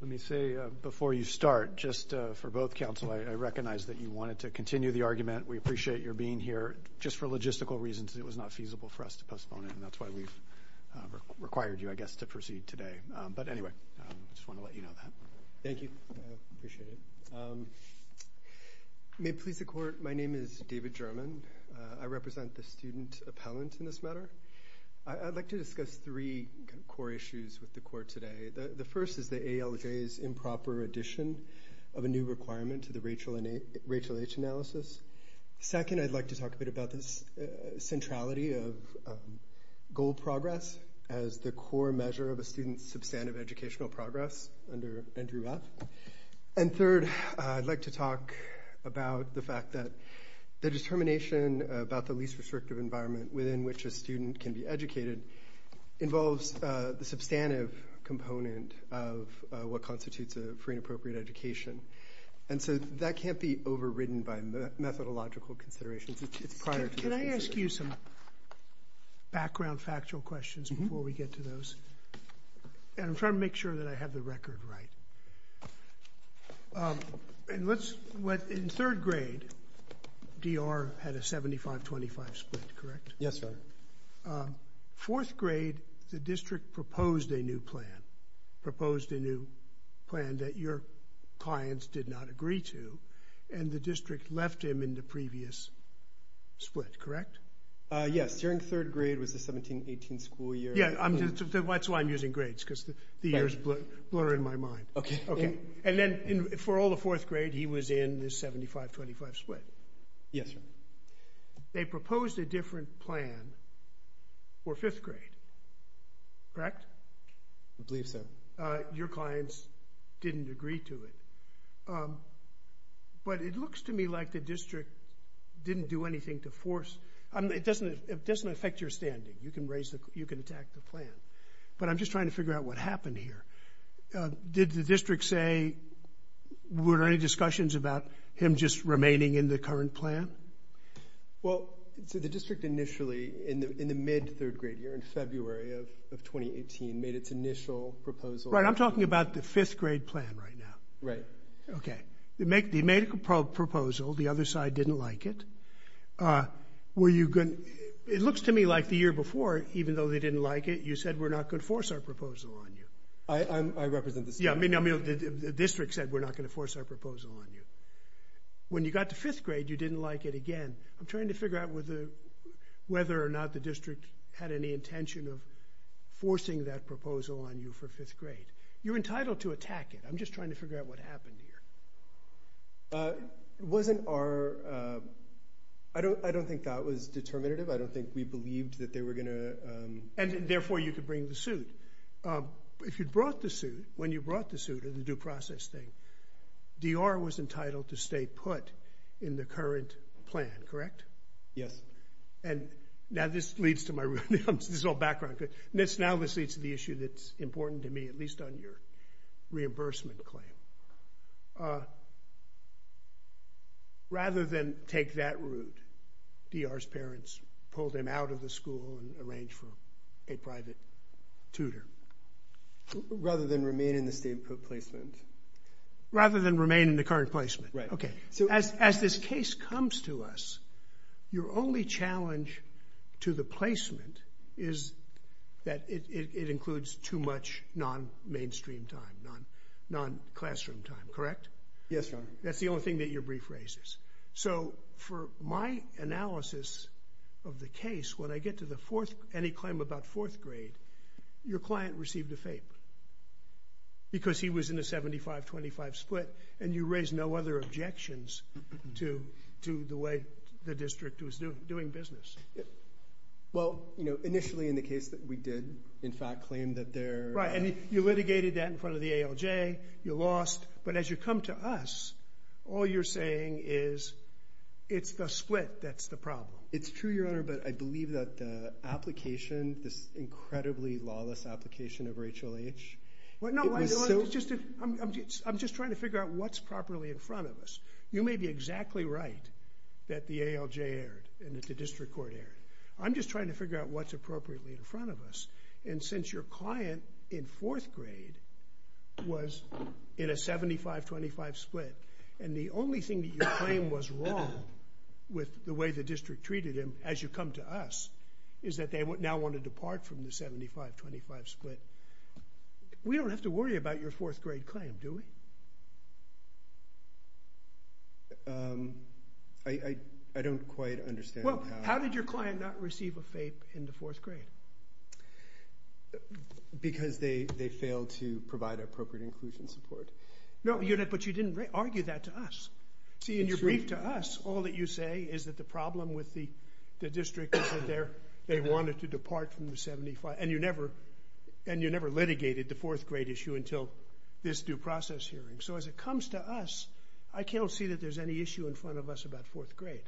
Let me say before you start, just for both counsel, I recognize that you wanted to continue the argument. We appreciate your being here. Just for logistical reasons, it was not feasible for us to postpone it, and that's why we've required you, I guess, to proceed today. But anyway, I just want to let you know that. Thank you. I appreciate it. May it please the Court, my name is David German. I represent the student appellant in this matter. I'd like to discuss three core issues with the Court today. The first is the ALJ's improper addition of a new requirement to the Rachel H. analysis. Second, I'd like to talk a bit about the centrality of goal progress as the core measure of a student's substantive educational progress under Andrew F. And third, I'd like to talk about the fact that the determination about the least restrictive environment within which a student can be educated involves the substantive component of what constitutes a free and appropriate education. And so that can't be overridden by methodological considerations. It's prior to that consideration. Can I ask you some background factual questions before we get to those? And I'm trying to make sure that I have the record right. In third grade, D.R. had a 75-25 split, correct? Yes, Your Honor. Fourth grade, the district proposed a new plan that your clients did not agree to. And the district left him in the previous split, correct? Yes. During third grade was the 17-18 school year. Yeah, that's why I'm using grades, because the years blur in my mind. Okay. Okay. And then for all the fourth grade, he was in the 75-25 split. Yes, Your Honor. They proposed a different plan for fifth grade, correct? I believe so. Your clients didn't agree to it. But it looks to me like the district didn't do anything to force. It doesn't affect your standing. You can attack the plan. But I'm just trying to figure out what happened here. Did the district say, were there any discussions about him just remaining in the current plan? Well, the district initially, in the mid-third grade year, in February of 2018, made its initial proposal. Right, I'm talking about the fifth grade plan right now. Right. Okay. They made a proposal. The other side didn't like it. It looks to me like the year before, even though they didn't like it, you said we're not going to force our proposal on you. I represent the state. Yeah, the district said we're not going to force our proposal on you. When you got to fifth grade, you didn't like it again. I'm trying to figure out whether or not the district had any intention of forcing that proposal on you for fifth grade. You're entitled to attack it. I'm just trying to figure out what happened here. It wasn't our – I don't think that was determinative. I don't think we believed that they were going to – And, therefore, you could bring the suit. If you'd brought the suit, when you brought the suit or the due process thing, DR was entitled to stay put in the current plan, correct? Yes. Now this leads to my – this is all background. Now this leads to the issue that's important to me, at least on your reimbursement claim. Rather than take that route, DR's parents pulled him out of the school and arranged for a private tutor. Rather than remain in the state placement. Rather than remain in the current placement. Right. Okay. As this case comes to us, your only challenge to the placement is that it includes too much non-mainstream time, non-classroom time, correct? Yes, Your Honor. That's the only thing that your brief raises. So for my analysis of the case, when I get to the fourth – any claim about fourth grade, your client received a FAPE. Because he was in a 75-25 split and you raised no other objections to the way the district was doing business. Well, you know, initially in the case that we did, in fact, claim that there – Right. And you litigated that in front of the ALJ. You lost. But as you come to us, all you're saying is it's the split that's the problem. It's true, Your Honor, but I believe that the application, this incredibly lawless application of Rachel H. No, I'm just trying to figure out what's properly in front of us. You may be exactly right that the ALJ erred and that the district court erred. I'm just trying to figure out what's appropriately in front of us. And since your client in fourth grade was in a 75-25 split and the only thing that your claim was wrong with the way the district treated him, as you come to us, is that they now want to depart from the 75-25 split. We don't have to worry about your fourth grade claim, do we? I don't quite understand how. How did your client not receive a FAPE in the fourth grade? Because they failed to provide appropriate inclusion support. No, but you didn't argue that to us. See, in your brief to us, all that you say is that the problem with the district is that they wanted to depart from the 75. And you never litigated the fourth grade issue until this due process hearing. So as it comes to us, I can't see that there's any issue in front of us about fourth grade.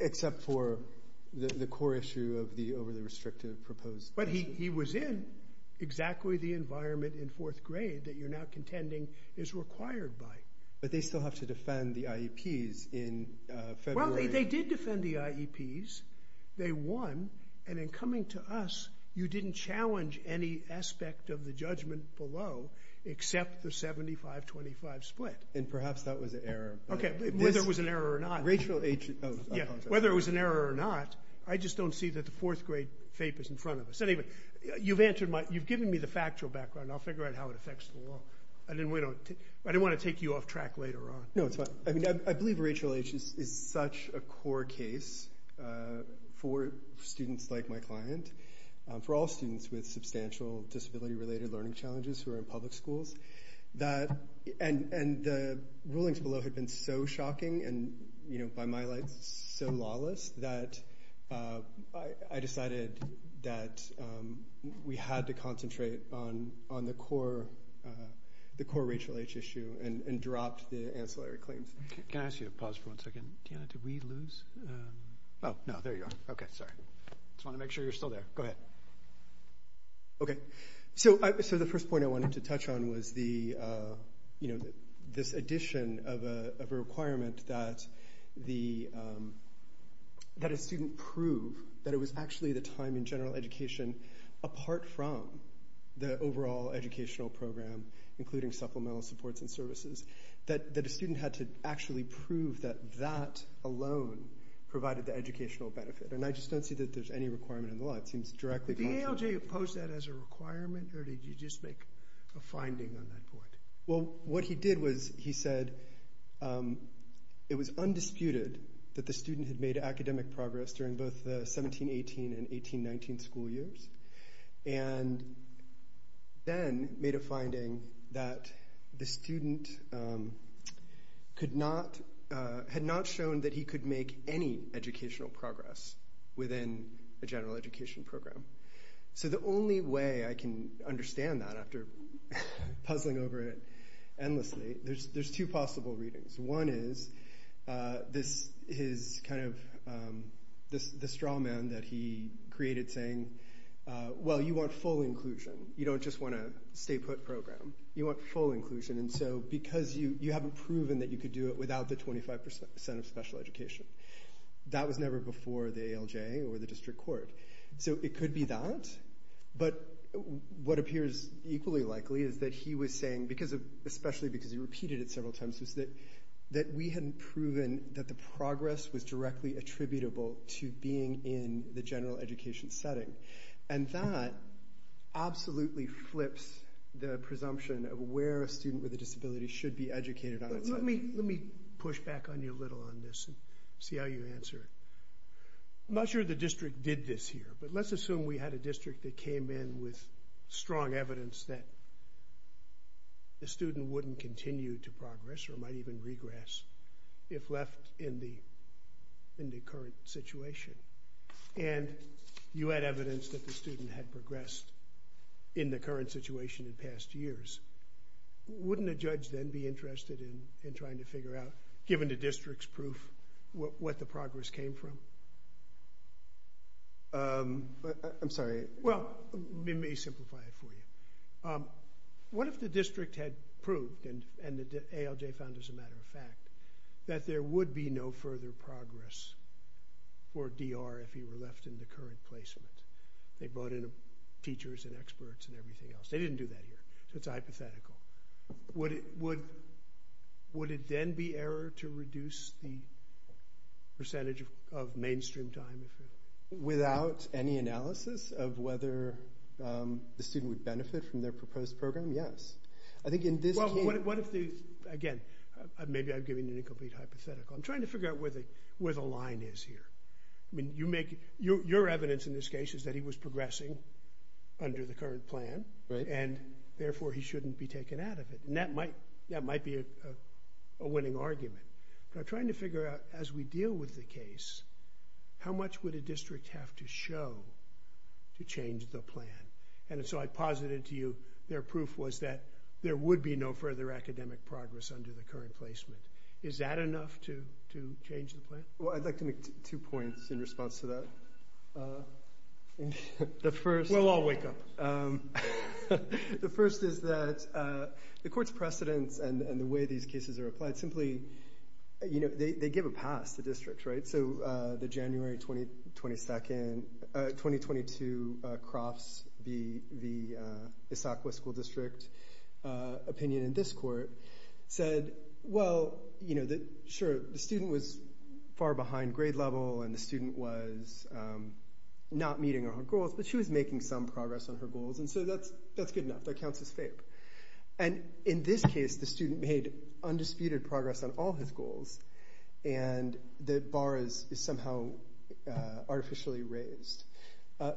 Except for the core issue of the overly restrictive proposed. But he was in exactly the environment in fourth grade that you're now contending is required by. But they still have to defend the IEPs in February. Well, they did defend the IEPs. They won. And in coming to us, you didn't challenge any aspect of the judgment below, except the 75-25 split. And perhaps that was an error. Whether it was an error or not. Rachel H. Whether it was an error or not, I just don't see that the fourth grade FAPE is in front of us. Anyway, you've given me the factual background. I'll figure out how it affects the law. I didn't want to take you off track later on. No, it's fine. I believe Rachel H. is such a core case for students like my client. For all students with substantial disability-related learning challenges who are in public schools. And the rulings below have been so shocking and, by my light, so lawless that I decided that we had to concentrate on the core Rachel H. issue. And dropped the ancillary claims. Can I ask you to pause for one second? Deanna, did we lose? Oh, no. There you are. Okay. Sorry. Just want to make sure you're still there. Go ahead. Okay. So the first point I wanted to touch on was this addition of a requirement that a student prove that it was actually the time in general education, apart from the overall educational program, including supplemental supports and services, that a student had to actually prove that that alone provided the educational benefit. And I just don't see that there's any requirement in the law. It seems directly contrary. Did the ALJ oppose that as a requirement? Or did you just make a finding on that point? Well, what he did was he said it was undisputed that the student had made academic progress during both the 17-18 and 18-19 school years and then made a finding that the student had not shown that he could make any educational progress within a general education program. So the only way I can understand that after puzzling over it endlessly, there's two possible readings. One is this kind of the straw man that he created saying, well, you want full inclusion. You don't just want a stay-put program. You want full inclusion. And so because you haven't proven that you could do it without the 25% of special education, that was never before the ALJ or the district court. So it could be that. But what appears equally likely is that he was saying, especially because he repeated it several times, was that we hadn't proven that the progress was directly attributable to being in the general education setting. And that absolutely flips the presumption of where a student with a disability should be educated. Let me push back on you a little on this and see how you answer it. I'm not sure the district did this here, but let's assume we had a district that came in with strong evidence that the student wouldn't continue to progress or might even regress if left in the current situation. And you had evidence that the student had progressed in the current situation in past years. Wouldn't a judge then be interested in trying to figure out, given the district's proof, what the progress came from? I'm sorry. Well, let me simplify it for you. What if the district had proved, and the ALJ found as a matter of fact, that there would be no further progress for DR if he were left in the current placement? They brought in teachers and experts and everything else. They didn't do that here, so it's hypothetical. Would it then be error to reduce the percentage of mainstream time? Without any analysis of whether the student would benefit from their proposed program? Yes. I think in this case— Well, what if the—again, maybe I'm giving you an incomplete hypothetical. I'm trying to figure out where the line is here. Your evidence in this case is that he was progressing under the current plan, and therefore he shouldn't be taken out of it. And that might be a winning argument. But I'm trying to figure out, as we deal with the case, how much would a district have to show to change the plan? And so I posited to you their proof was that there would be no further academic progress under the current placement. Is that enough to change the plan? Well, I'd like to make two points in response to that. Well, I'll wake up. The first is that the court's precedents and the way these cases are applied simply— they give a pass to districts, right? So the January 2022 Crofts v. Issaquah School District opinion in this court said, well, sure, the student was far behind grade level, and the student was not meeting all her goals, but she was making some progress on her goals, and so that's good enough. That counts as fair. And in this case, the student made undisputed progress on all his goals, and the bar is somehow artificially raised.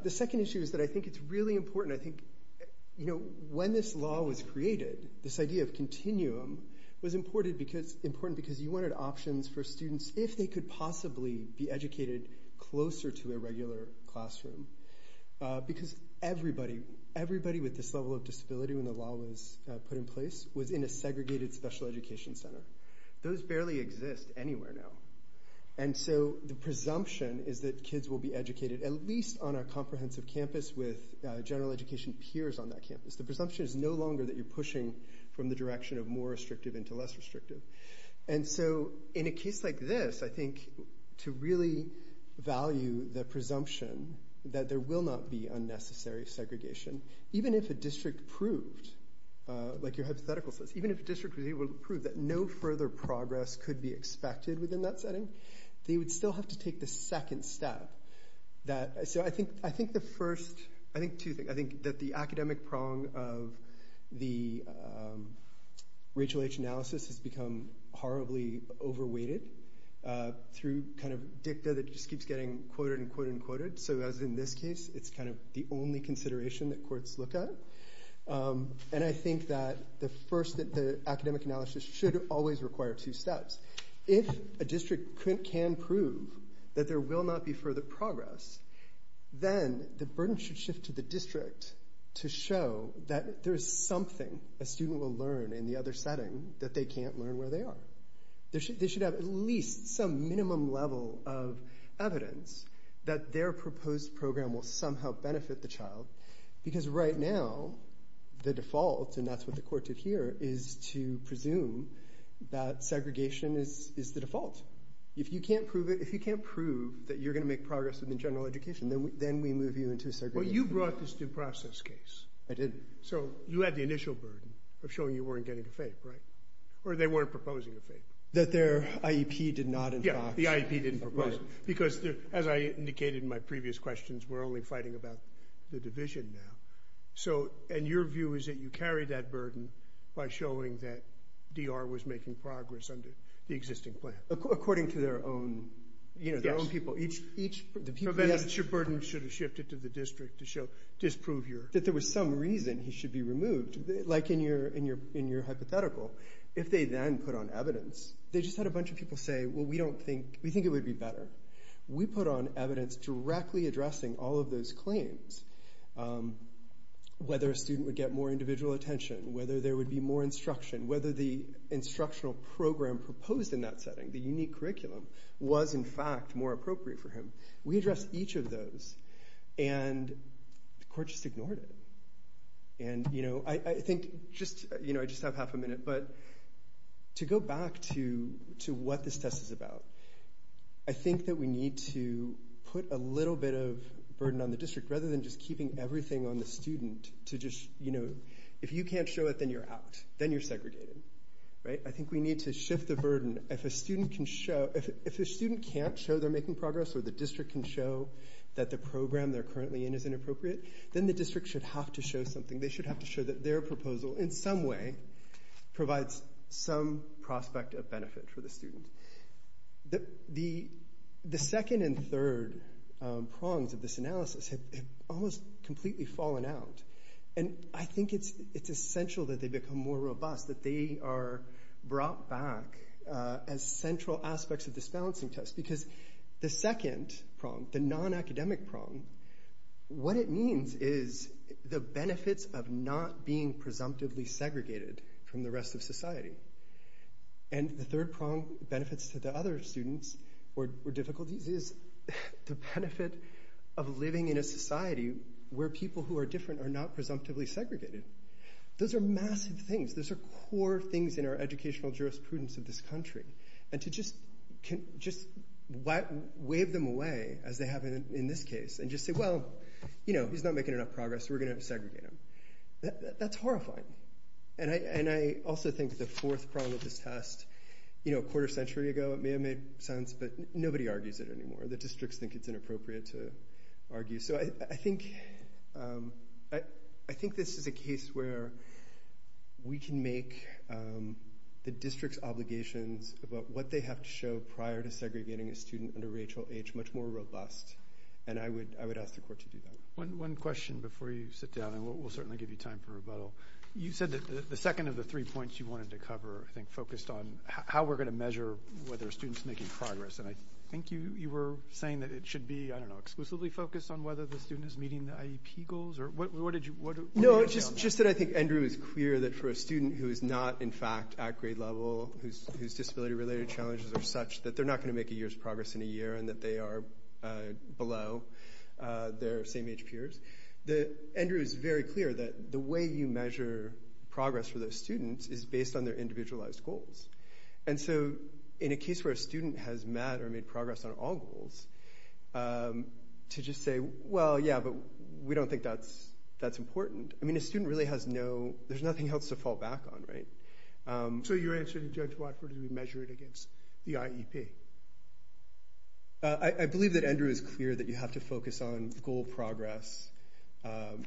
The second issue is that I think it's really important. I think when this law was created, this idea of continuum was important because you wanted options for students if they could possibly be educated closer to a regular classroom, because everybody with this level of disability when the law was put in place was in a segregated special education center. Those barely exist anywhere now, and so the presumption is that kids will be educated, at least on a comprehensive campus with general education peers on that campus. The presumption is no longer that you're pushing from the direction of more restrictive into less restrictive. And so in a case like this, I think to really value the presumption that there will not be unnecessary segregation, even if a district proved, like your hypothetical says, even if a district was able to prove that no further progress could be expected within that setting, they would still have to take the second step. So I think the first, I think two things. I think that the academic prong of the Rachel H. analysis has become horribly over-weighted through kind of dicta that just keeps getting quoted and quoted and quoted. So as in this case, it's kind of the only consideration that courts look at. And I think that the first, the academic analysis should always require two steps. If a district can prove that there will not be further progress, then the burden should shift to the district to show that there is something a student will learn in the other setting that they can't learn where they are. They should have at least some minimum level of evidence that their proposed program will somehow benefit the child, because right now the default, and that's what the court did here, is to presume that segregation is the default. If you can't prove it, if you can't prove that you're going to make progress in general education, then we move you into segregation. Well, you brought this due process case. I did. So you had the initial burden of showing you weren't getting a FAPE, right? Or they weren't proposing a FAPE. That their IEP did not enforce. The IEP didn't propose it. Because, as I indicated in my previous questions, we're only fighting about the division now. And your view is that you carry that burden by showing that DR was making progress under the existing plan. According to their own people. Each preventative burden should have shifted to the district to disprove your… That there was some reason he should be removed, like in your hypothetical. If they then put on evidence, they just had a bunch of people say, well, we think it would be better. We put on evidence directly addressing all of those claims. Whether a student would get more individual attention. Whether there would be more instruction. Whether the instructional program proposed in that setting, the unique curriculum, was in fact more appropriate for him. We addressed each of those. And the court just ignored it. And, you know, I think just, you know, I just have half a minute. But to go back to what this test is about. I think that we need to put a little bit of burden on the district. Rather than just keeping everything on the student. To just, you know, if you can't show it, then you're out. Then you're segregated. I think we need to shift the burden. If a student can't show they're making progress. Or the district can show that the program they're currently in is inappropriate. Then the district should have to show something. They should have to show that their proposal, in some way, provides some prospect of benefit for the student. The second and third prongs of this analysis have almost completely fallen out. And I think it's essential that they become more robust. That they are brought back as central aspects of this balancing test. Because the second prong, the non-academic prong. What it means is the benefits of not being presumptively segregated from the rest of society. And the third prong benefits to the other students or difficulties is the benefit of living in a society. Where people who are different are not presumptively segregated. Those are massive things. Those are core things in our educational jurisprudence of this country. And to just wave them away, as they have in this case. And just say, well, he's not making enough progress. We're going to segregate him. That's horrifying. And I also think the fourth prong of this test. A quarter century ago, it may have made sense. But nobody argues it anymore. The districts think it's inappropriate to argue. So I think this is a case where we can make the district's obligations about what they have to show prior to segregating a student under Rachel H. Much more robust. And I would ask the court to do that. One question before you sit down. And we'll certainly give you time for rebuttal. You said that the second of the three points you wanted to cover. I think focused on how we're going to measure whether a student's making progress. And I think you were saying that it should be, I don't know, exclusively focused on whether the student is meeting the IEP goals. Or what did you? No, just that I think Andrew is clear that for a student who is not, in fact, at grade level. Whose disability related challenges are such that they're not going to make a year's progress in a year. And that they are below their same age peers. Andrew is very clear that the way you measure progress for those students is based on their individualized goals. And so in a case where a student has met or made progress on all goals. To just say, well, yeah, but we don't think that's important. I mean a student really has no, there's nothing else to fall back on, right? So your answer to Judge Watford is we measure it against the IEP. I believe that Andrew is clear that you have to focus on goal progress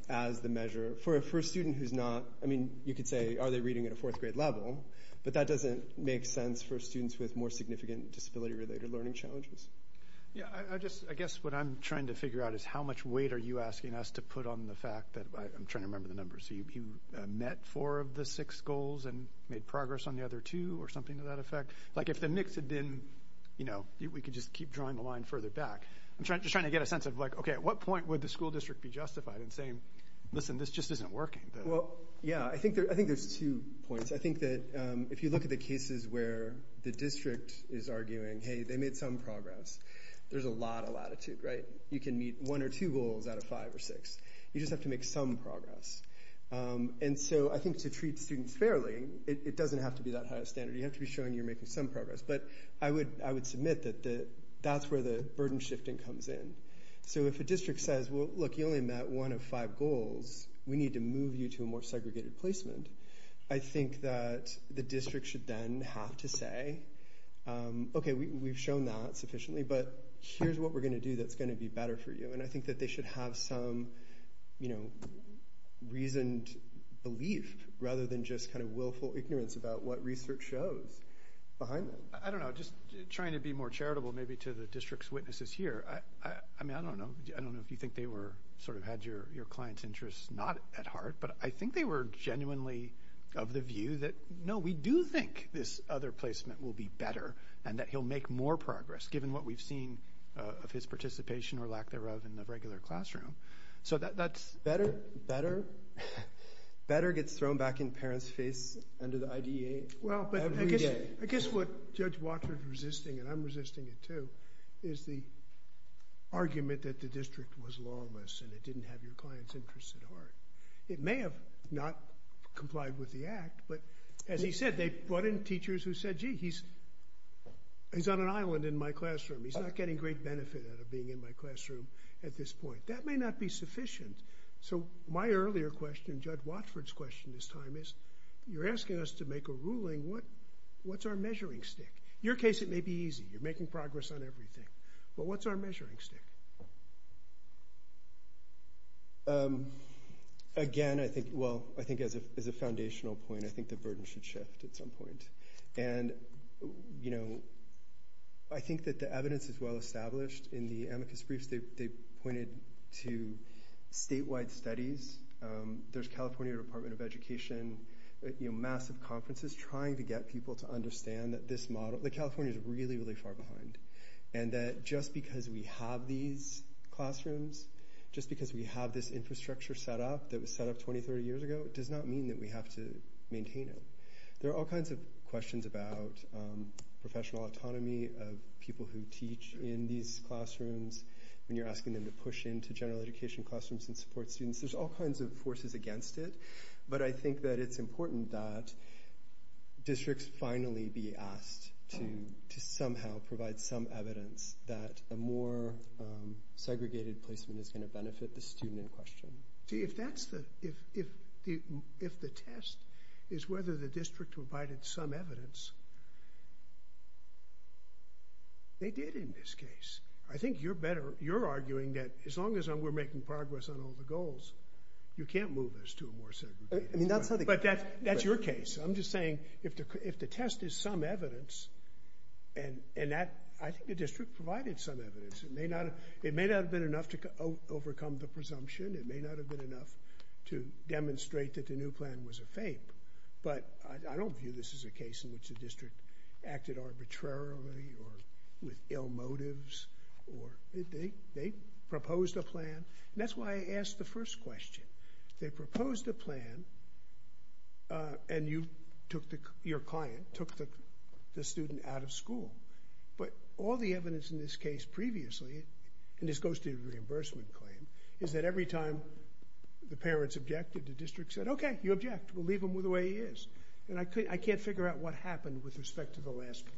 as the measure. For a student who's not, I mean, you could say, are they reading at a fourth grade level? But that doesn't make sense for students with more significant disability related learning challenges. Yeah, I guess what I'm trying to figure out is how much weight are you asking us to put on the fact that, I'm trying to remember the numbers, so you met four of the six goals. And made progress on the other two or something to that effect. Like if the mix had been, you know, we could just keep drawing the line further back. I'm just trying to get a sense of like, okay, at what point would the school district be justified in saying, listen, this just isn't working. Well, yeah, I think there's two points. I think that if you look at the cases where the district is arguing, hey, they made some progress. There's a lot of latitude, right? You can meet one or two goals out of five or six. You just have to make some progress. And so I think to treat students fairly, it doesn't have to be that high a standard. You have to be showing you're making some progress. But I would submit that that's where the burden shifting comes in. So if a district says, well, look, you only met one of five goals. We need to move you to a more segregated placement. I think that the district should then have to say, okay, we've shown that sufficiently. But here's what we're going to do that's going to be better for you. And I think that they should have some, you know, reasoned belief, rather than just kind of willful ignorance about what research shows behind them. I don't know. Just trying to be more charitable maybe to the district's witnesses here. I mean, I don't know. I don't know if you think they were sort of had your client's interests not at heart. But I think they were genuinely of the view that, no, we do think this other placement will be better and that he'll make more progress given what we've seen of his participation or lack thereof in the regular classroom. Better gets thrown back in parents' face under the IDEA every day. I guess what Judge Watford's resisting, and I'm resisting it too, is the argument that the district was lawless and it didn't have your client's interests at heart. It may have not complied with the act. But as he said, they brought in teachers who said, gee, he's on an island in my classroom. He's not getting great benefit out of being in my classroom at this point. That may not be sufficient. So my earlier question, Judge Watford's question this time, is you're asking us to make a ruling. What's our measuring stick? In your case, it may be easy. You're making progress on everything. But what's our measuring stick? Again, I think, well, I think as a foundational point, I think the burden should shift at some point. And, you know, I think that the evidence is well established. In the amicus briefs, they pointed to statewide studies. There's California Department of Education, you know, massive conferences trying to get people to understand that this model, that California's really, really far behind, and that just because we have these classrooms, just because we have this infrastructure set up that was set up 20, 30 years ago, does not mean that we have to maintain it. There are all kinds of questions about professional autonomy of people who teach in these classrooms. When you're asking them to push into general education classrooms and support students, there's all kinds of forces against it. But I think that it's important that districts finally be asked to somehow provide some evidence that a more segregated placement is going to benefit the student in question. See, if that's the, if the test is whether the district provided some evidence, they did in this case. I think you're better, you're arguing that as long as we're making progress on all the goals, you can't move us to a more segregated place. But that's your case. I'm just saying if the test is some evidence, and that, I think the district provided some evidence. It may not have been enough to overcome the presumption. It may not have been enough to demonstrate that the new plan was a fape. But I don't view this as a case in which the district acted arbitrarily or with ill motives. They proposed a plan, and that's why I asked the first question. They proposed a plan, and you took, your client took the student out of school. But all the evidence in this case previously, and this goes to the reimbursement claim, is that every time the parents objected, the district said, okay, you object, we'll leave him the way he is. And I can't figure out what happened with respect to the last plan.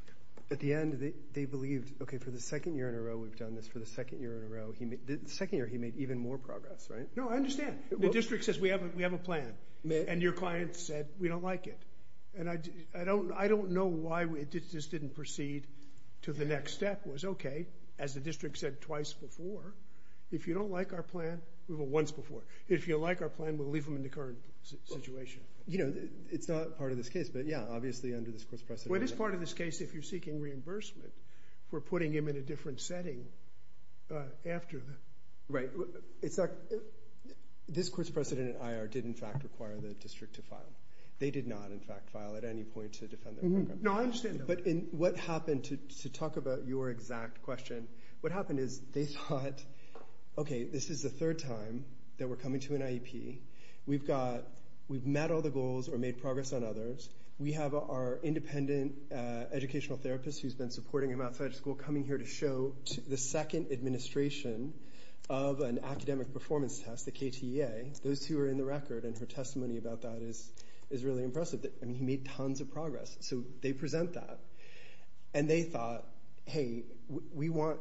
At the end, they believed, okay, for the second year in a row we've done this, for the second year in a row, the second year he made even more progress, right? No, I understand. The district says we have a plan, and your client said we don't like it. And I don't know why it just didn't proceed to the next step was, okay, as the district said twice before, if you don't like our plan, well, once before, if you like our plan, we'll leave him in the current situation. You know, it's not part of this case, but, yeah, obviously under this course precedent. Well, it is part of this case if you're seeking reimbursement for putting him in a different setting after that. This course precedent in IR did, in fact, require the district to file. They did not, in fact, file at any point to defend their program. No, I understand that. But what happened, to talk about your exact question, what happened is they thought, okay, this is the third time that we're coming to an IEP. We've met all the goals or made progress on others. We have our independent educational therapist who's been supporting him outside of school coming here to show the second administration of an academic performance test, the KTEA. Those two are in the record, and her testimony about that is really impressive. I mean, he made tons of progress, so they present that. And they thought, hey, we want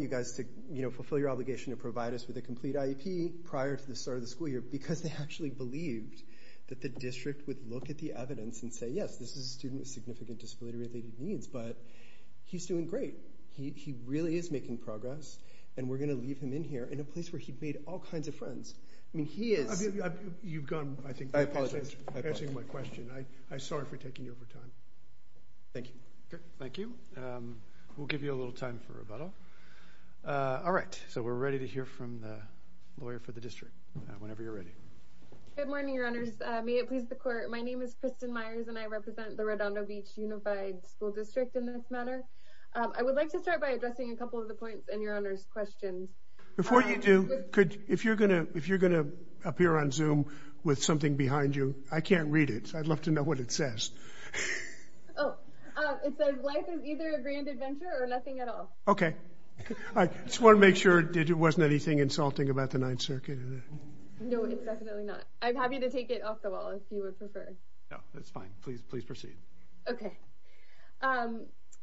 you guys to fulfill your obligation to provide us with a complete IEP prior to the start of the school year because they actually believed that the district would look at the evidence and say, yes, this is a student with significant disability-related needs, but he's doing great. He really is making progress, and we're going to leave him in here in a place where he made all kinds of friends. I mean, he is— You've gone, I think— I apologize. Answering my question. I'm sorry for taking you over time. Thank you. Thank you. We'll give you a little time for rebuttal. All right, so we're ready to hear from the lawyer for the district whenever you're ready. Good morning, Your Honors. May it please the Court, my name is Kristen Myers, and I represent the Redondo Beach Unified School District in this matter. I would like to start by addressing a couple of the points in Your Honor's questions. Before you do, if you're going to appear on Zoom with something behind you, I can't read it, so I'd love to know what it says. It says, life is either a grand adventure or nothing at all. Okay. I just want to make sure it wasn't anything insulting about the Ninth Circuit. No, it's definitely not. I'm happy to take it off the wall if you would prefer. No, that's fine. Please proceed. Okay.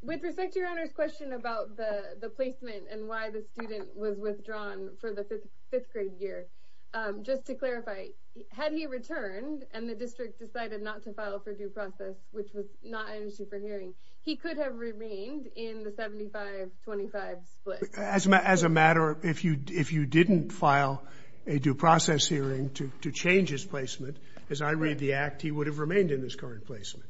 With respect to Your Honor's question about the placement and why the student was withdrawn for the fifth grade year, just to clarify, had he returned and the district decided not to file for due process, which was not an issue for hearing, he could have remained in the 75-25 split. As a matter of, if you didn't file a due process hearing to change his placement, as I read the act, he would have remained in his current placement.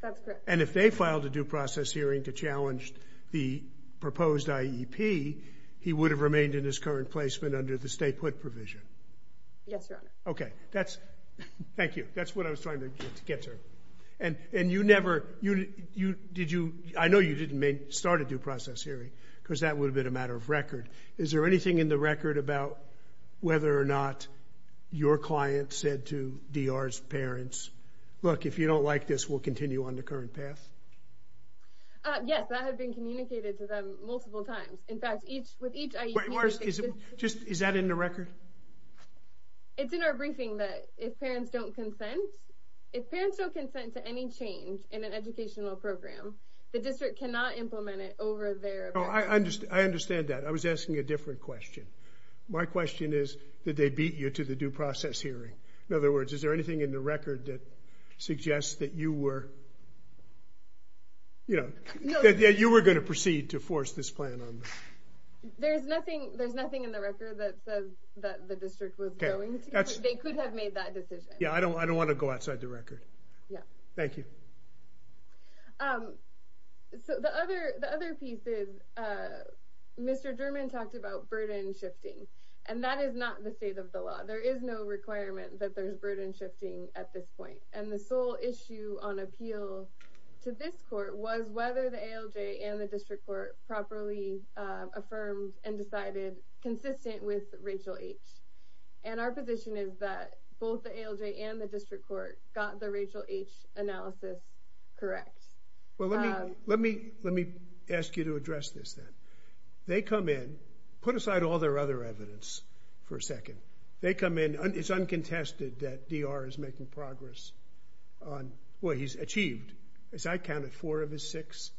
That's correct. And if they filed a due process hearing to challenge the proposed IEP, he would have remained in his current placement under the stay put provision. Yes, Your Honor. Okay. Thank you. That's what I was trying to get to. And I know you didn't start a due process hearing because that would have been a matter of record. Is there anything in the record about whether or not your client said to DR's parents, look, if you don't like this, we'll continue on the current path? Yes, that had been communicated to them multiple times. In fact, with each IEP... Is that in the record? It's in our briefing that if parents don't consent, if parents don't consent to any change in an educational program, the district cannot implement it over their... I understand that. I was asking a different question. My question is, did they beat you to the due process hearing? In other words, is there anything in the record that suggests that you were, you know, that you were going to proceed to force this plan on them? There's nothing in the record that says that the district was going to. They could have made that decision. Yeah, I don't want to go outside the record. Yeah. Thank you. So the other piece is Mr. Derman talked about burden shifting, and that is not the state of the law. There is no requirement that there's burden shifting at this point. And the sole issue on appeal to this court was whether the ALJ and the district court properly affirmed and decided consistent with Rachel H. And our position is that both the ALJ and the district court got the Rachel H. analysis correct. Well, let me ask you to address this then. They come in, put aside all their other evidence for a second. They come in. It's uncontested that DR is making progress on what he's achieved. As I counted, four of his six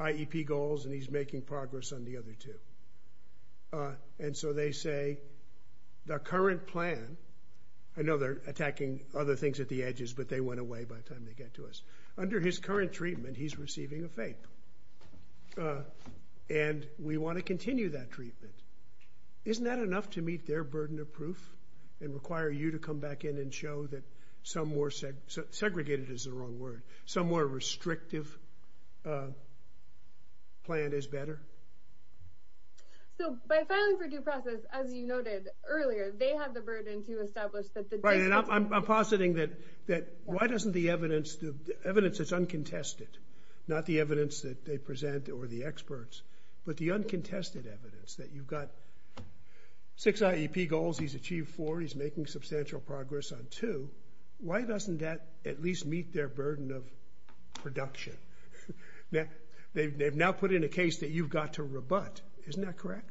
IEP goals, and he's making progress on the other two. And so they say the current plan, I know they're attacking other things at the edges, but they went away by the time they get to us. Under his current treatment, he's receiving a FAPE. And we want to continue that treatment. Isn't that enough to meet their burden of proof and require you to come back in and show that some more segregated is the wrong word, some more restrictive plan is better? So by filing for due process, as you noted earlier, they have the burden to establish that the district court is doing it. Right, and I'm positing that why doesn't the evidence that's uncontested, not the evidence that they present or the experts, but the uncontested evidence that you've got six IEP goals he's achieved, four he's making substantial progress on, two, why doesn't that at least meet their burden of production? They've now put in a case that you've got to rebut. Isn't that correct?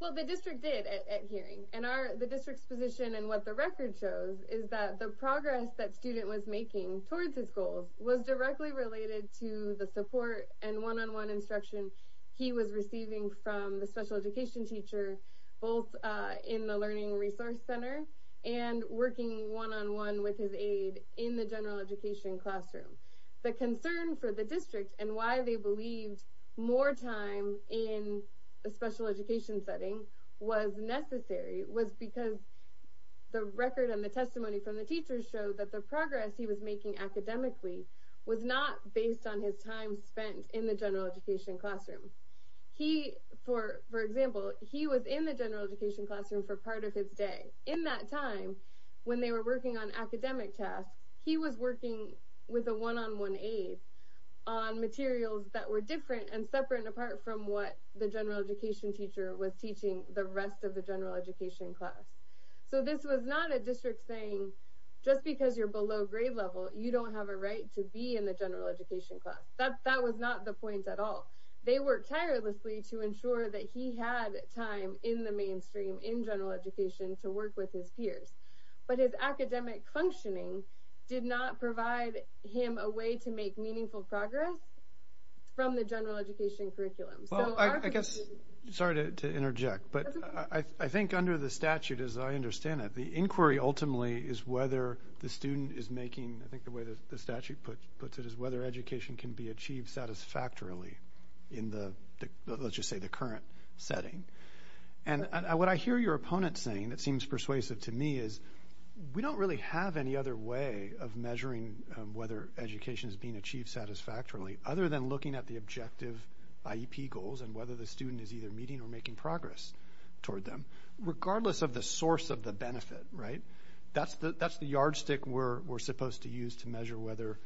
Well, the district did at hearing. And the district's position and what the record shows is that the progress that student was making towards his goals was directly related to the support and one-on-one instruction he was receiving from the special education teacher both in the learning resource center and working one-on-one with his aide in the general education classroom. The concern for the district and why they believed more time in the special education setting was necessary was because the record and the testimony from the teacher showed that the progress he was making academically was not based on his time spent in the general education classroom. For example, he was in the general education classroom for part of his day. In that time, when they were working on academic tasks, he was working with a one-on-one aide on materials that were different and separate and apart from what the general education teacher was teaching the rest of the general education class. So this was not a district saying just because you're below grade level, you don't have a right to be in the general education class. That was not the point at all. They worked tirelessly to ensure that he had time in the mainstream in general education to work with his peers. But his academic functioning did not provide him a way to make meaningful progress from the general education curriculum. Sorry to interject, but I think under the statute, as I understand it, the inquiry ultimately is whether the student is making, I think the way the statute puts it, is whether education can be achieved satisfactorily in the current setting. What I hear your opponent saying that seems persuasive to me is we don't really have any other way of measuring whether education is being achieved satisfactorily other than looking at the objective IEP goals and whether the student is either meeting or making progress toward them, regardless of the source of the benefit. That's the yardstick we're supposed to use to measure whether,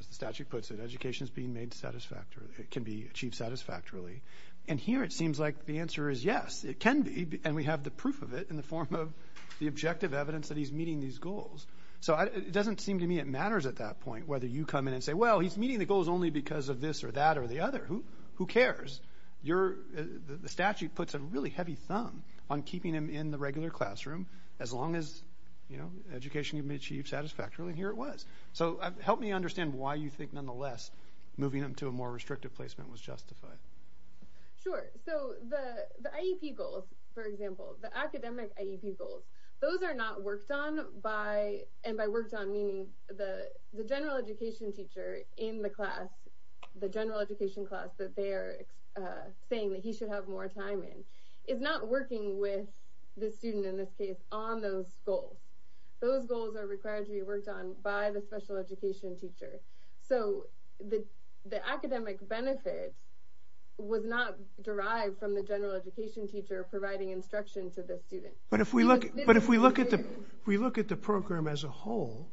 as the statute puts it, education is being made satisfactorily, it can be achieved satisfactorily. And here it seems like the answer is yes, it can be, and we have the proof of it in the form of the objective evidence that he's meeting these goals. So it doesn't seem to me it matters at that point whether you come in and say, well, he's meeting the goals only because of this or that or the other. Who cares? The statute puts a really heavy thumb on keeping him in the regular classroom as long as education can be achieved satisfactorily, and here it was. So help me understand why you think, nonetheless, moving him to a more restrictive placement was justified. Sure. So the IEP goals, for example, the academic IEP goals, those are not worked on, and by worked on meaning the general education teacher in the class, the general education class that they are saying that he should have more time in, is not working with the student, in this case, on those goals. Those goals are required to be worked on by the special education teacher. So the academic benefit was not derived from the general education teacher providing instruction to the student. But if we look at the program as a whole,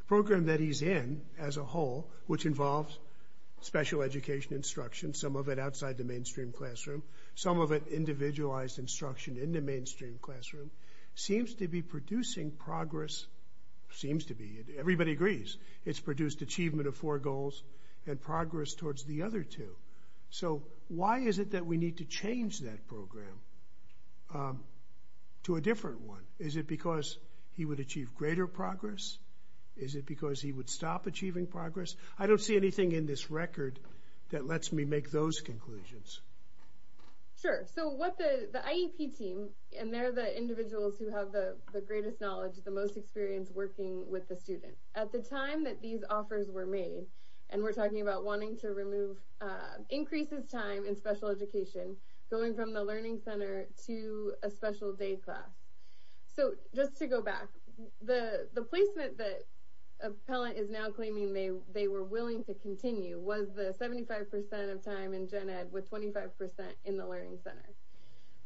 the program that he's in as a whole, which involves special education instruction, some of it outside the mainstream classroom, some of it individualized instruction in the mainstream classroom, seems to be producing progress. Seems to be. Everybody agrees. It's produced achievement of four goals and progress towards the other two. So why is it that we need to change that program to a different one? Is it because he would achieve greater progress? Is it because he would stop achieving progress? I don't see anything in this record that lets me make those conclusions. Sure. So what the IEP team, and they're the individuals who have the greatest knowledge, the most experience working with the student. At the time that these offers were made, and we're talking about wanting to remove increases time in special education, going from the learning center to a special day class. So just to go back, the placement that appellant is now claiming they were willing to continue was the 75 percent of time in gen ed with 25 percent in the learning center.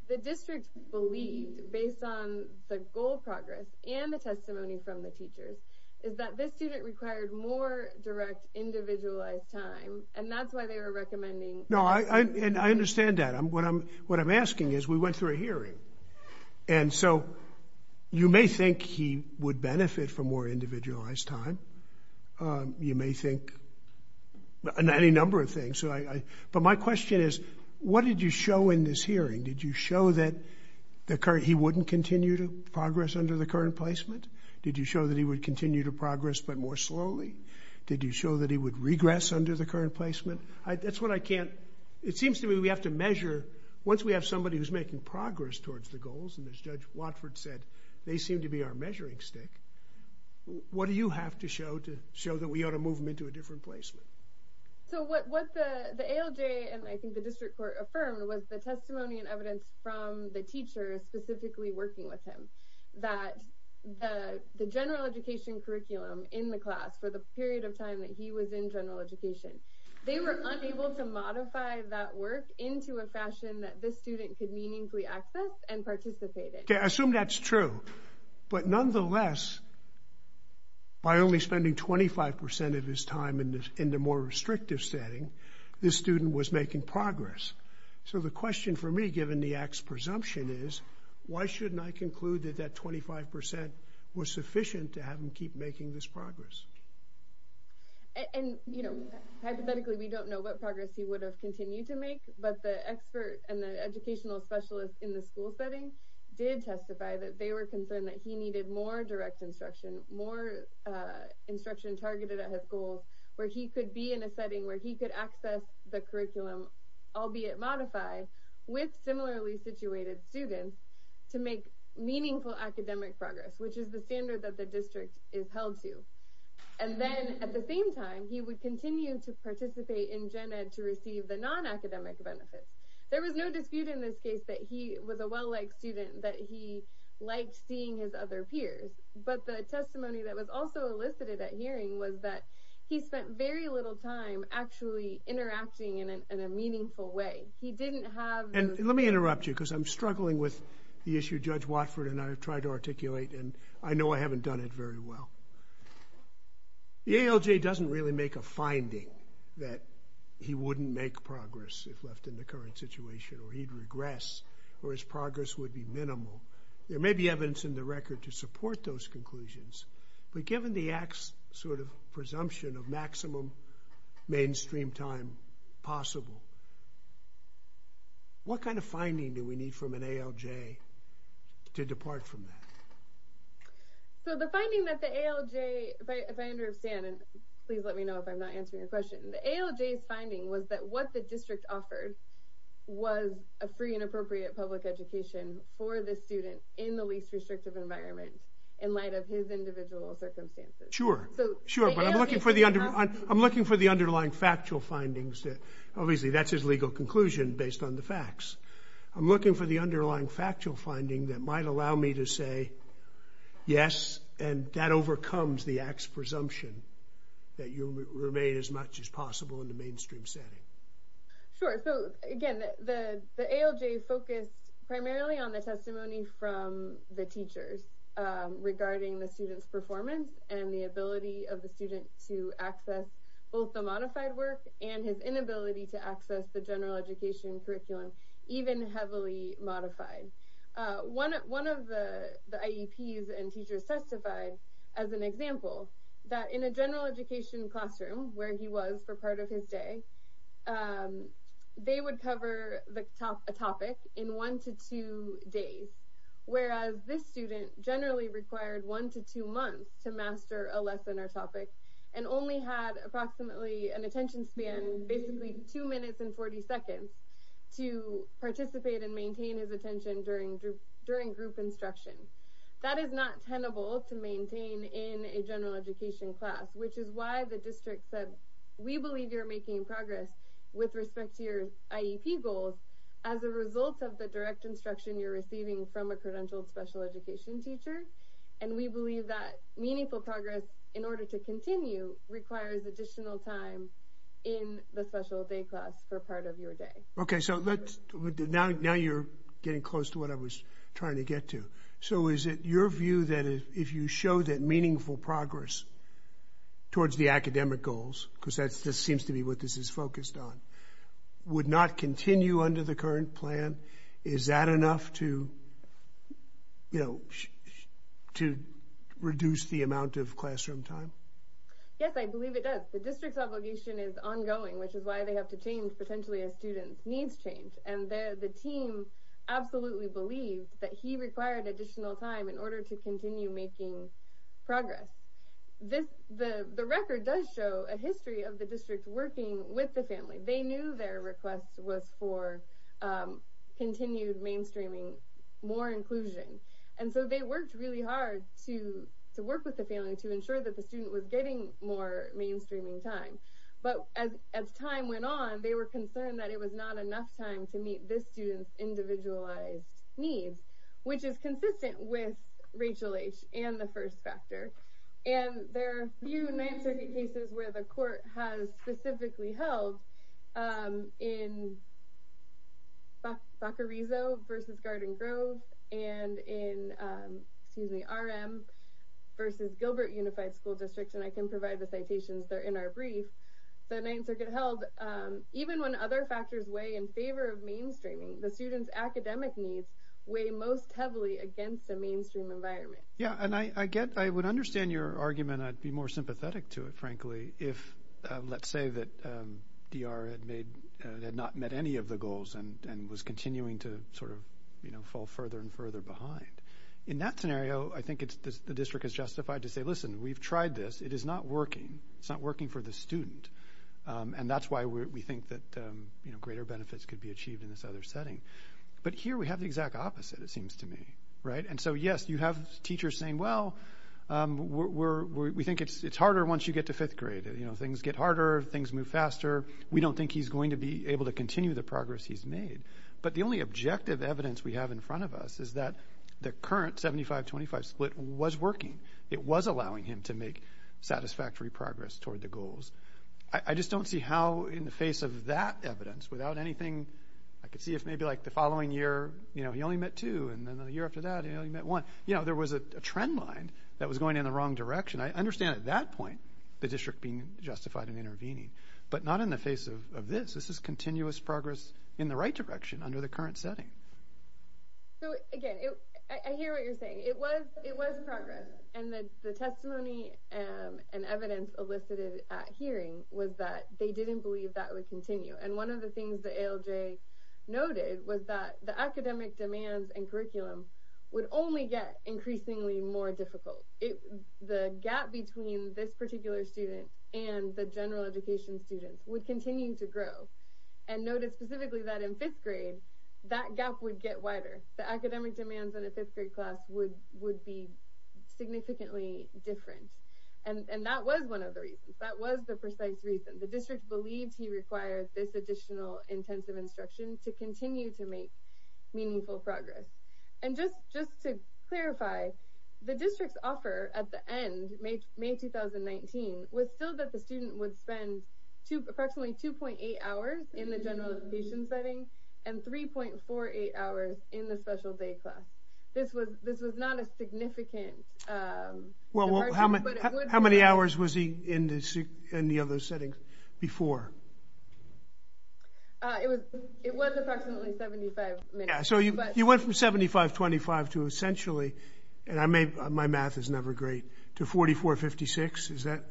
The district believed, based on the goal progress and the testimony from the teachers, is that this student required more direct, individualized time, and that's why they were recommending. No, I understand that. What I'm asking is, we went through a hearing, and so you may think he would benefit from more individualized time. You may think any number of things. But my question is, what did you show in this hearing? Did you show that he wouldn't continue to progress under the current placement? Did you show that he would continue to progress but more slowly? Did you show that he would regress under the current placement? It seems to me we have to measure, once we have somebody who's making progress towards the goals, and as Judge Watford said, they seem to be our measuring stick, what do you have to show to show that we ought to move them into a different placement? So what the ALJ and I think the district court affirmed was the testimony and evidence from the teacher, specifically working with him, that the general education curriculum in the class, for the period of time that he was in general education, they were unable to modify that work into a fashion that this student could meaningfully access and participate in. I assume that's true. But nonetheless, by only spending 25% of his time in the more restrictive setting, this student was making progress. So the question for me, given the act's presumption, is, why shouldn't I conclude that that 25% was sufficient to have him keep making this progress? And, you know, hypothetically, we don't know what progress he would have continued to make, but the expert and the educational specialist in the school setting did testify that they were concerned that he needed more direct instruction, more instruction targeted at his goals, where he could be in a setting where he could access the curriculum, albeit modify, with similarly situated students to make meaningful academic progress, which is the standard that the district is held to. And then at the same time, he would continue to participate in gen ed to receive the non-academic benefits. There was no dispute in this case that he was a well-liked student, that he liked seeing his other peers. But the testimony that was also elicited at hearing was that he spent very little time actually interacting in a meaningful way. He didn't have... And let me interrupt you, because I'm struggling with the issue Judge Watford and I have tried to articulate, and I know I haven't done it very well. The ALJ doesn't really make a finding that he wouldn't make progress if left in the current situation, or he'd regress, or his progress would be minimal. There may be evidence in the record to support those conclusions, but given the act's sort of presumption of maximum mainstream time possible, what kind of finding do we need from an ALJ to depart from that? So the finding that the ALJ... If I understand, and please let me know if I'm not answering your question. The ALJ's finding was that what the district offered was a free and appropriate public education for the student in the least restrictive environment in light of his individual circumstances. Sure, but I'm looking for the underlying factual findings. Obviously, that's his legal conclusion based on the facts. I'm looking for the underlying factual finding that might allow me to say yes, and that overcomes the act's presumption that you remain as much as possible in the mainstream setting. Sure, so again, the ALJ focused primarily on the testimony from the teachers regarding the student's performance and the ability of the student to access both the modified work and his inability to access the general education curriculum, even heavily modified. One of the IEPs and teachers testified as an example that in a general education classroom, where he was for part of his day, they would cover a topic in one to two days, whereas this student generally required one to two months to master a lesson or topic and only had approximately an attention span, basically two minutes and 40 seconds, to participate and maintain his attention during group instruction. That is not tenable to maintain in a general education class, which is why the district said we believe you're making progress with respect to your IEP goals as a result of the direct instruction you're receiving from a credentialed special education teacher, and we believe that meaningful progress, in order to continue, requires additional time in the special day class for part of your day. Okay, so now you're getting close to what I was trying to get to. So is it your view that if you show that meaningful progress towards the academic goals, because that seems to be what this is focused on, would not continue under the current plan, is that enough to reduce the amount of classroom time? Yes, I believe it does. The district's obligation is ongoing, which is why they have to change, potentially, as students' needs change. And the team absolutely believed that he required additional time in order to continue making progress. The record does show a history of the district working with the family. They knew their request was for continued mainstreaming, more inclusion. And so they worked really hard to work with the family to ensure that the student was getting more mainstreaming time. But as time went on, they were concerned that it was not enough time to meet this student's individualized needs, which is consistent with Rachel H. and the first factor. And there are a few Ninth Circuit cases where the court has specifically held, in Vacarizo versus Garden Grove, and in RM versus Gilbert Unified School District, and I can provide the citations, they're in our brief, that Ninth Circuit held, even when other factors weigh in favor of mainstreaming, the student's academic needs weigh most heavily against a mainstream environment. Yeah, and I would understand your argument, I'd be more sympathetic to it, frankly, if, let's say that DR had not met any of the goals and was continuing to sort of fall further and further behind. In that scenario, I think the district is justified to say, listen, we've tried this. It is not working. It's not working for the student. And that's why we think that greater benefits could be achieved in this other setting. But here we have the exact opposite, it seems to me. And so, yes, you have teachers saying, well, we think it's harder once you get to fifth grade. Things get harder. Things move faster. We don't think he's going to be able to continue the progress he's made. But the only objective evidence we have in front of us is that the current 75-25 split was working. It was allowing him to make satisfactory progress toward the goals. I just don't see how, in the face of that evidence, without anything, I could see if maybe like the following year, you know, he only met two, and then the year after that he only met one. You know, there was a trend line that was going in the wrong direction. I understand at that point the district being justified in intervening, but not in the face of this. This is continuous progress in the right direction under the current setting. So, again, I hear what you're saying. It was progress. And the testimony and evidence elicited at hearing was that they didn't believe that would continue. And one of the things that ALJ noted was that the academic demands and curriculum would only get increasingly more difficult. The gap between this particular student and the general education students would continue to grow. And noted specifically that in fifth grade, that gap would get wider. The academic demands in a fifth grade class would be significantly different. And that was one of the reasons. That was the precise reason. The district believed he required this additional intensive instruction to continue to make meaningful progress. And just to clarify, the district's offer at the end, May 2019, was still that the student would spend approximately 2.8 hours in the general education setting, and 3.48 hours in the special day class. This was not a significant... Well, how many hours was he in the other settings before? It was approximately 75 minutes. So you went from 75, 25 to essentially, and my math is never great, to 44, 56? Is that...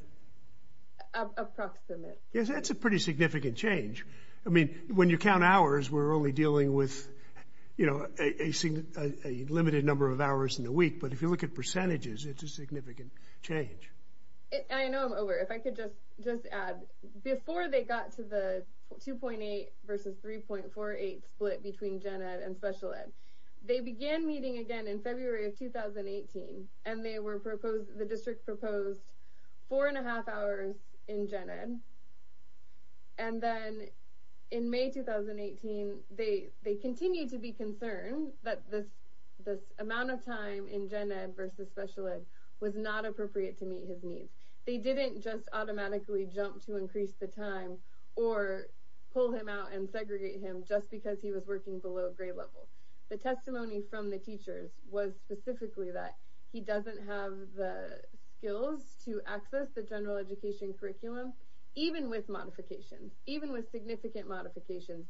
Approximate. That's a pretty significant change. I mean, when you count hours, we're only dealing with a limited number of hours in the week. But if you look at percentages, it's a significant change. I know I'm over. If I could just add. Before they got to the 2.8 versus 3.48 split between gen ed and special ed, they began meeting again in February of 2018. And the district proposed four and a half hours in gen ed. And then in May 2018, they continued to be concerned that this amount of time in gen ed versus special ed was not appropriate to meet his needs. They didn't just automatically jump to increase the time or pull him out and segregate him just because he was working below grade level. The testimony from the teachers was specifically that he doesn't have the skills to access the general education curriculum, even with modifications, even with significant modifications.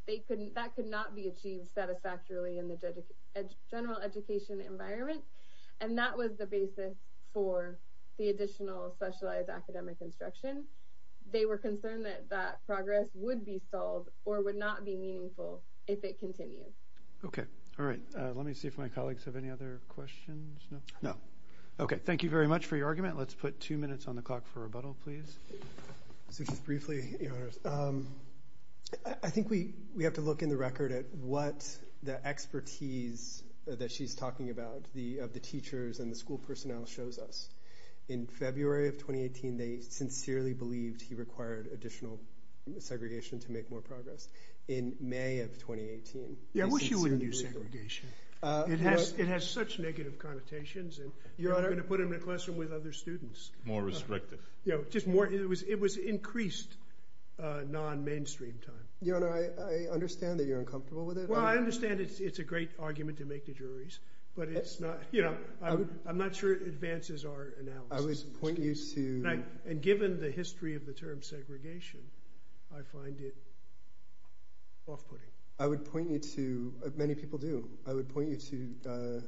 That could not be achieved satisfactorily in the general education environment. And that was the basis for the additional specialized academic instruction. They were concerned that that progress would be stalled or would not be meaningful if it continues. Okay. All right. Let me see if my colleagues have any other questions. No. No. Okay. Thank you very much for your argument. Let's put two minutes on the clock for rebuttal, please. So just briefly, I think we have to look in the record at what the expertise that she's talking about, the of the teachers and the school personnel shows us. In February of 2018, they sincerely believed he required additional segregation to make more progress. In May of 2018. Yeah, I wish you wouldn't use segregation. It has it has such negative connotations and you're not going to put him in a classroom with other students. More restrictive. You know, just more. It was it was increased non mainstream time. You know, I understand that you're uncomfortable with it. I understand it's a great argument to make to juries, but it's not, you know, I'm not sure it advances our analysis. I would point you to. And given the history of the term segregation, I find it off putting. I would point you to many people do. I would point you to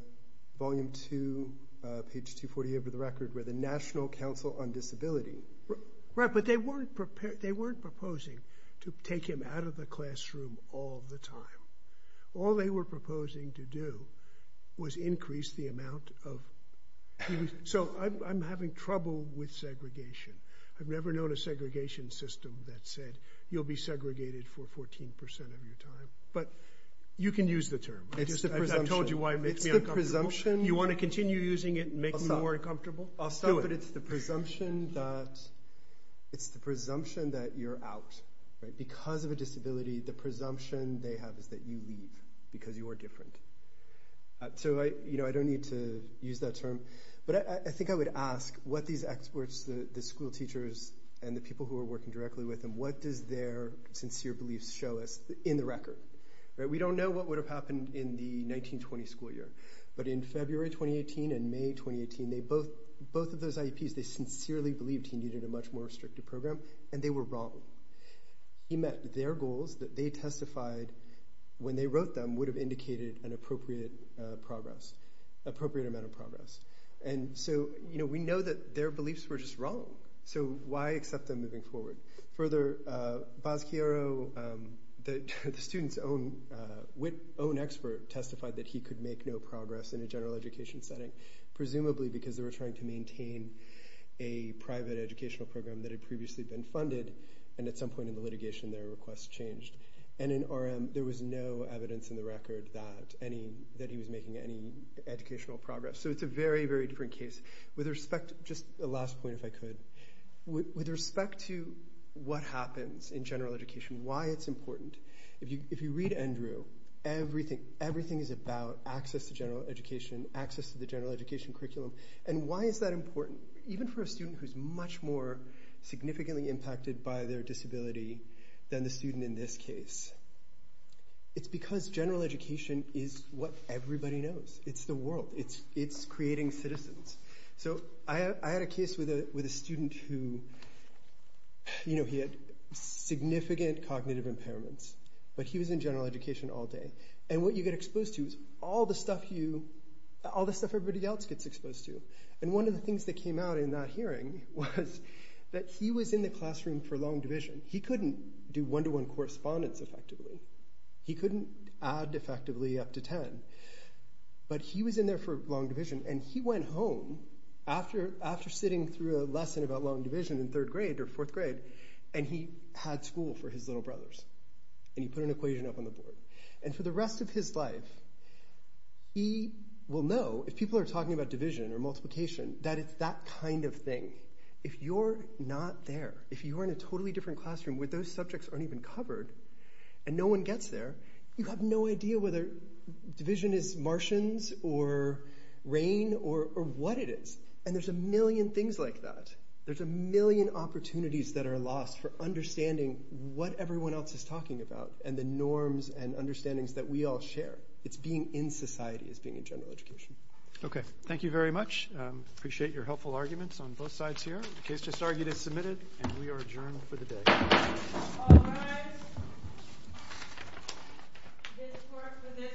volume two, page 240 over the record where the National Council on Disability. But they weren't prepared. They weren't proposing to take him out of the classroom all the time. All they were proposing to do was increase the amount of. So I'm having trouble with segregation. I've never known a segregation system that said you'll be segregated for 14 percent of your time. But you can use the term. I just told you why. It's the presumption. You want to continue using it. Also, it's the presumption that it's the presumption that you're out because of a disability. The presumption they have is that you leave because you are different. So, you know, I don't need to use that term, but I think I would ask what these experts, the school teachers and the people who are working directly with them. What does their sincere beliefs show us in the record? We don't know what would have happened in the 1920 school year. But in February 2018 and May 2018, both of those IEPs, they sincerely believed he needed a much more restrictive program, and they were wrong. He met their goals that they testified when they wrote them would have indicated an appropriate amount of progress. And so, you know, we know that their beliefs were just wrong. So why accept them moving forward? Further, Basquero, the student's own expert, testified that he could make no progress in a general education setting, presumably because they were trying to maintain a private educational program that had previously been funded. And at some point in the litigation, their request changed. And in RM, there was no evidence in the record that he was making any educational progress. So it's a very, very different case. Just a last point, if I could. With respect to what happens in general education, why it's important. If you read Andrew, everything is about access to general education, access to the general education curriculum. And why is that important? Even for a student who's much more significantly impacted by their disability than the student in this case. It's because general education is what everybody knows. It's the world. It's creating citizens. So I had a case with a student who, you know, he had significant cognitive impairments, but he was in general education all day. And what you get exposed to is all the stuff everybody else gets exposed to. And one of the things that came out in that hearing was that he was in the classroom for long division. He couldn't do one-to-one correspondence effectively. He couldn't add effectively up to ten. But he was in there for long division, and he went home after sitting through a lesson about long division in third grade or fourth grade, and he had school for his little brothers. And he put an equation up on the board. And for the rest of his life, he will know, if people are talking about division or multiplication, that it's that kind of thing. If you're not there, if you're in a totally different classroom where those subjects aren't even covered, and no one gets there, you have no idea whether division is Martians or rain or what it is. And there's a million things like that. There's a million opportunities that are lost for understanding what everyone else is talking about and the norms and understandings that we all share. It's being in society as being in general education. Okay. Thank you very much. Appreciate your helpful arguments on both sides here. The case just argued is submitted, and we are adjourned for the day. All rise. This court for this session stands adjourned.